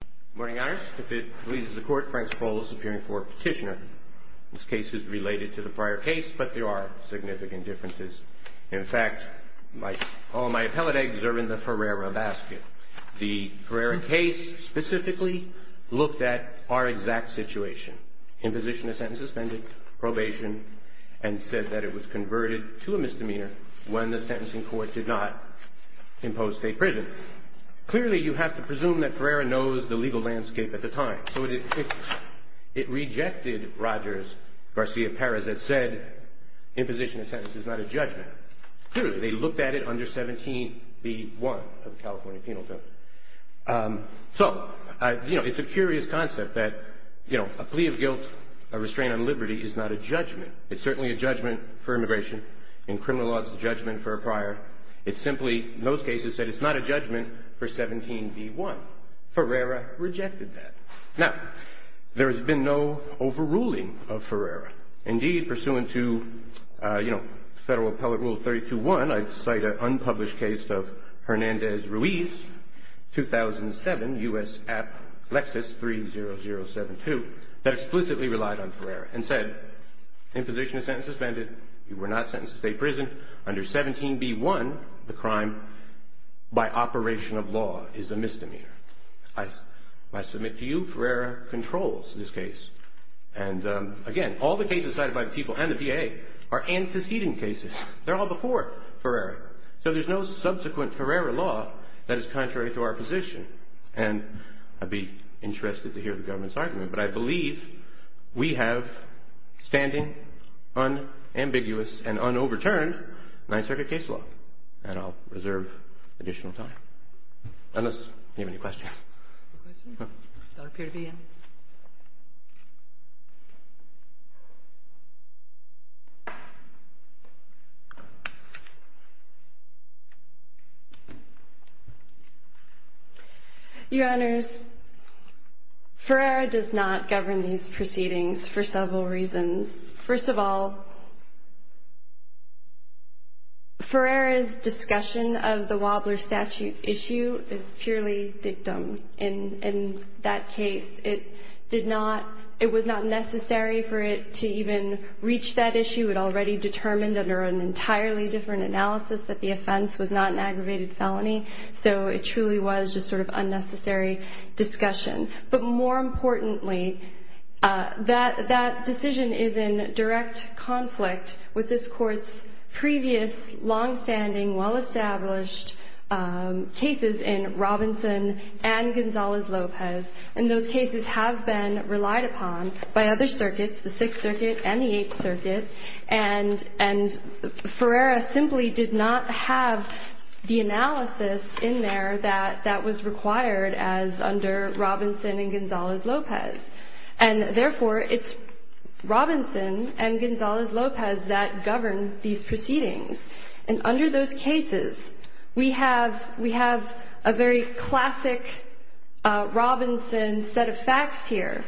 Good morning, Your Honor. If it pleases the Court, Frank Sproles, appearing for petitioner. This case is related to the prior case, but there are significant differences. In fact, all my appellate eggs are in the Ferreira basket. The Ferreira case specifically looked at our exact situation, imposition of sentence suspended, probation, and said that it was converted to a misdemeanor when the sentencing court did not impose state prison. Clearly, you have to presume that Ferreira knows the legal landscape at the time. It rejected Rogers, Garcia, Perez, that said imposition of sentence is not a judgment. Clearly, they looked at it under 17b.1 of the California Penal Code. It's a curious concept that a plea of guilt, a restraint on liberty, is not a judgment. It's certainly a judgment for immigration. In criminal law, it's a judgment for a prior. It's simply, in those cases, said it's not a judgment for 17b.1. Ferreira rejected that. Now, there has been no overruling of Ferreira. Indeed, pursuant to Federal Appellate Rule 32.1, I cite an unpublished case of Hernandez-Ruiz, 2007, U.S. App Lexis 30072, that explicitly relied on Ferreira and said, Imposition of sentence suspended. You were not sentenced to state prison under 17b.1. The crime, by operation of law, is a misdemeanor. I submit to you Ferreira controls this case. And again, all the cases cited by the people and the VA are antecedent cases. They're all before Ferreira. So there's no subsequent Ferreira law that is contrary to our position. And I'd be interested to hear the government's argument. But I believe we have standing, unambiguous, and un-overturned Ninth Circuit case law. And I'll reserve additional time. Unless you have any questions. No questions? No. I don't appear to be in. Thank you. Your Honors, Ferreira does not govern these proceedings for several reasons. First of all, Ferreira's discussion of the Wobbler statute issue is purely dictum. In that case, it was not necessary for it to even reach that issue. It already determined under an entirely different analysis that the offense was not an aggravated felony. So it truly was just sort of unnecessary discussion. But more importantly, that decision is in direct conflict with this Court's previous long-standing, well-established cases in Robinson and Gonzalez-Lopez. And those cases have been relied upon by other circuits, the Sixth Circuit and the Eighth Circuit. And Ferreira simply did not have the analysis in there that was required as under Robinson and Gonzalez-Lopez. And therefore, it's Robinson and Gonzalez-Lopez that govern these proceedings. And under those cases, we have a very classic Robinson set of facts here.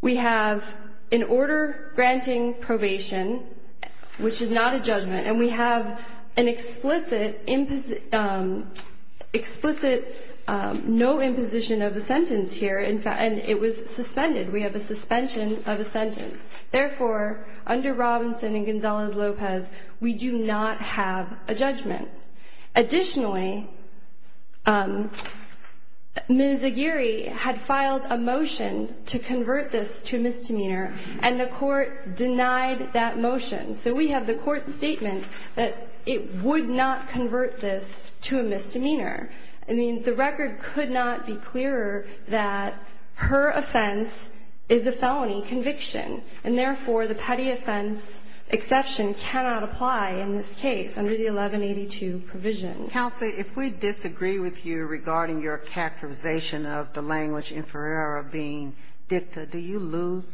We have an order granting probation, which is not a judgment, and we have an explicit no imposition of a sentence here, and it was suspended. We have a suspension of a sentence. Therefore, under Robinson and Gonzalez-Lopez, we do not have a judgment. Additionally, Ms. Aguirre had filed a motion to convert this to a misdemeanor, and the Court denied that motion. So we have the Court's statement that it would not convert this to a misdemeanor. I mean, the record could not be clearer that her offense is a felony conviction, and therefore, the petty offense exception cannot apply in this case under the 1182 provision. Counsel, if we disagree with you regarding your characterization of the language in Ferreira being dicta, do you lose?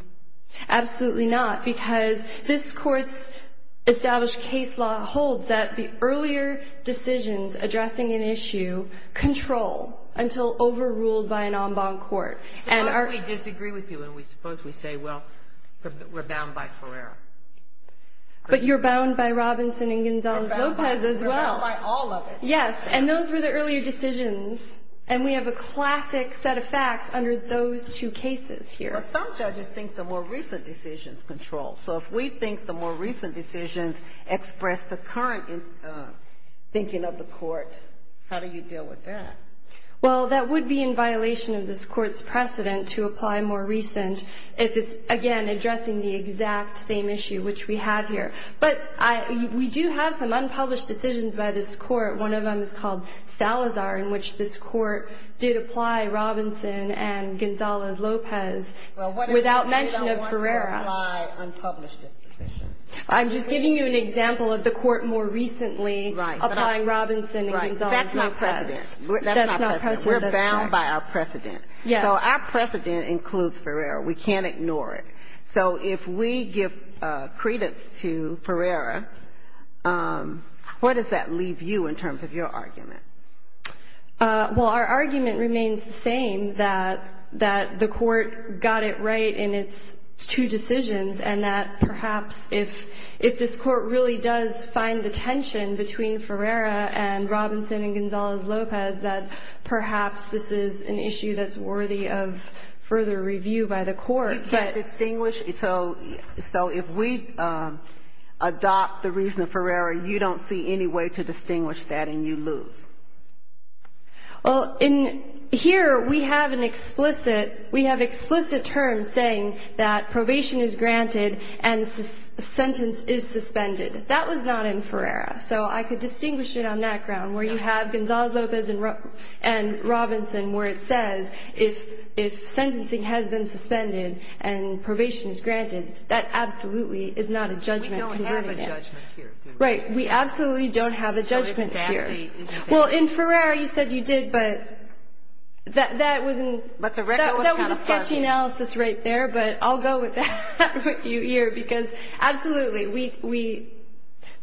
Absolutely not, because this Court's established case law holds that the earlier decisions addressing an issue control until overruled by an en banc court. Suppose we disagree with you, and we suppose we say, well, we're bound by Ferreira. But you're bound by Robinson and Gonzalez-Lopez as well. We're bound by all of it. Yes, and those were the earlier decisions, and we have a classic set of facts under those two cases here. Well, some judges think the more recent decisions control. So if we think the more recent decisions express the current thinking of the Court, how do you deal with that? Well, that would be in violation of this Court's precedent to apply more recent if it's, again, addressing the exact same issue which we have here. But we do have some unpublished decisions by this Court. One of them is called Salazar, in which this Court did apply Robinson and Gonzalez-Lopez without mention of Ferreira. Well, what if we don't want to apply unpublished decisions? I'm just giving you an example of the Court more recently applying Robinson and Gonzalez-Lopez. That's not precedent. That's not precedent. We're bound by our precedent. Yes. So our precedent includes Ferreira. We can't ignore it. So if we give credence to Ferreira, where does that leave you in terms of your argument? Well, our argument remains the same, that the Court got it right in its two decisions, and that perhaps if this Court really does find the tension between Ferreira and Robinson and Gonzalez-Lopez, that perhaps this is an issue that's worthy of further review by the Court. But distinguish? So if we adopt the reason of Ferreira, you don't see any way to distinguish that and you lose? Well, in here we have an explicit, we have explicit terms saying that probation is granted and sentence is suspended. That was not in Ferreira. So I could distinguish it on that ground, where you have Gonzalez-Lopez and Robinson, where it says if sentencing has been suspended and probation is granted, that absolutely is not a judgment. We don't have a judgment here. Right. We absolutely don't have a judgment here. Well, in Ferreira you said you did, but that was a sketchy analysis right there, but I'll go with that here because absolutely,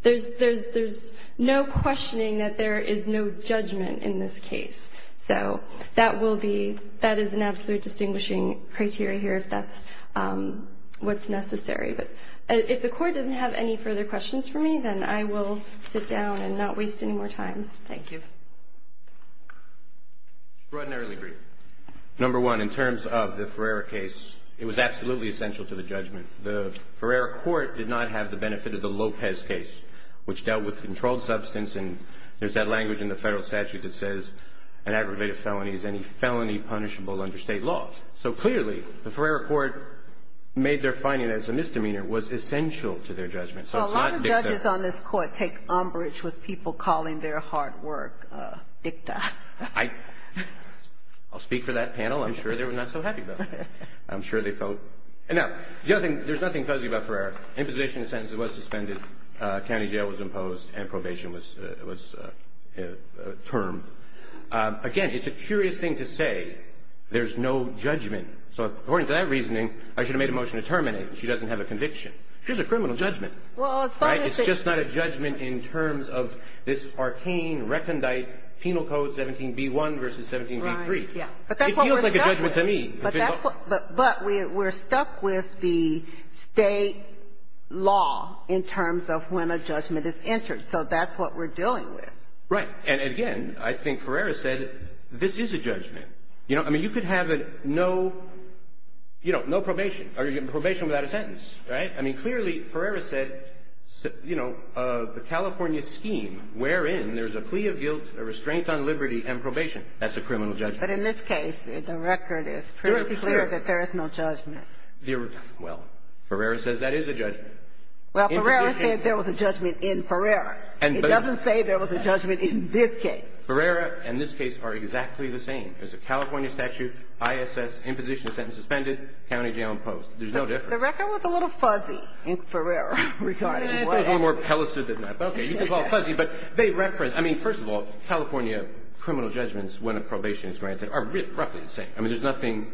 there's no questioning that there is no judgment in this case. So that is an absolute distinguishing criteria here if that's what's necessary. But if the Court doesn't have any further questions for me, then I will sit down and not waste any more time. Thank you. Extraordinarily brief. Number one, in terms of the Ferreira case, it was absolutely essential to the judgment. The Ferreira Court did not have the benefit of the Lopez case, which dealt with controlled substance, and there's that language in the federal statute that says an aggravated felony is any felony punishable under state laws. So clearly, the Ferreira Court made their finding as a misdemeanor was essential to their judgment. So it's not dicta. A lot of judges on this Court take umbrage with people calling their hard work dicta. I'll speak for that panel. I'm sure they were not so happy about it. I'm sure they felt. Now, the other thing, there's nothing fuzzy about Ferreira. Imposition of sentences was suspended, county jail was imposed, and probation was termed. Again, it's a curious thing to say there's no judgment. So according to that reasoning, I should have made a motion to terminate. She doesn't have a conviction. Here's a criminal judgment. Right? It's just not a judgment in terms of this arcane recondite penal code 17b1 versus 17b3. It feels like a judgment to me. But we're stuck with the state law in terms of when a judgment is entered. So that's what we're dealing with. Right. And, again, I think Ferreira said this is a judgment. You know, I mean, you could have no, you know, no probation or probation without a sentence. Right? I mean, clearly Ferreira said, you know, the California scheme wherein there's a plea of guilt, a restraint on liberty, and probation. That's a criminal judgment. But in this case, the record is pretty clear that there is no judgment. Well, Ferreira says that is a judgment. Well, Ferreira said there was a judgment in Ferreira. It doesn't say there was a judgment in this case. Ferreira and this case are exactly the same. There's a California statute, ISS, imposition of sentence suspended, county jail imposed. There's no difference. The record was a little fuzzy in Ferreira regarding what happened. It was a little more pellicid than that. But, okay, you can call it fuzzy. But they reference – I mean, first of all, California criminal judgments when a probation is granted are roughly the same. I mean, there's nothing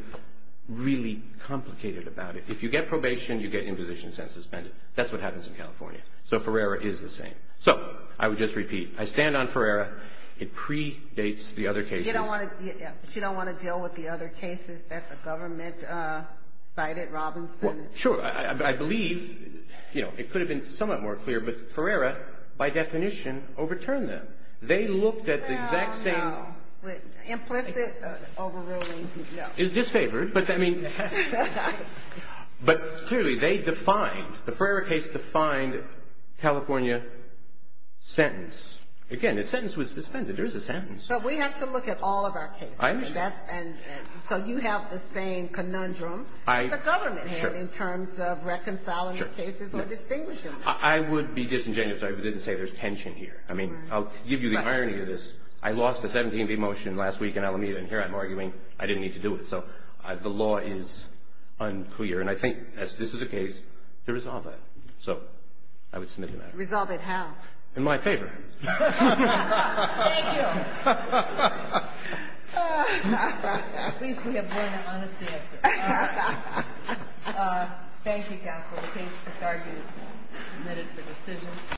really complicated about it. If you get probation, you get imposition of sentence suspended. That's what happens in California. So Ferreira is the same. So I would just repeat, I stand on Ferreira. It predates the other cases. You don't want to deal with the other cases that the government cited, Robinson. Well, sure. I believe, you know, it could have been somewhat more clear, but Ferreira, by definition, overturned them. They looked at the exact same – No, no. Implicit overruling, no. Is disfavored. But, clearly, they defined – the Ferreira case defined California sentence. Again, the sentence was suspended. There is a sentence. But we have to look at all of our cases. I understand. So you have the same conundrum that the government had in terms of reconciling the cases or distinguishing them. I would be disingenuous if I didn't say there's tension here. I mean, I'll give you the irony of this. I lost the 17B motion last week in Alameda, and here I'm arguing I didn't need to do it. So the law is unclear. And I think, as this is a case, to resolve that. So I would submit to that. Resolve it how? In my favor. Thank you. At least we have learned an honest answer. Thank you, counsel. The case disargued is submitted for decision.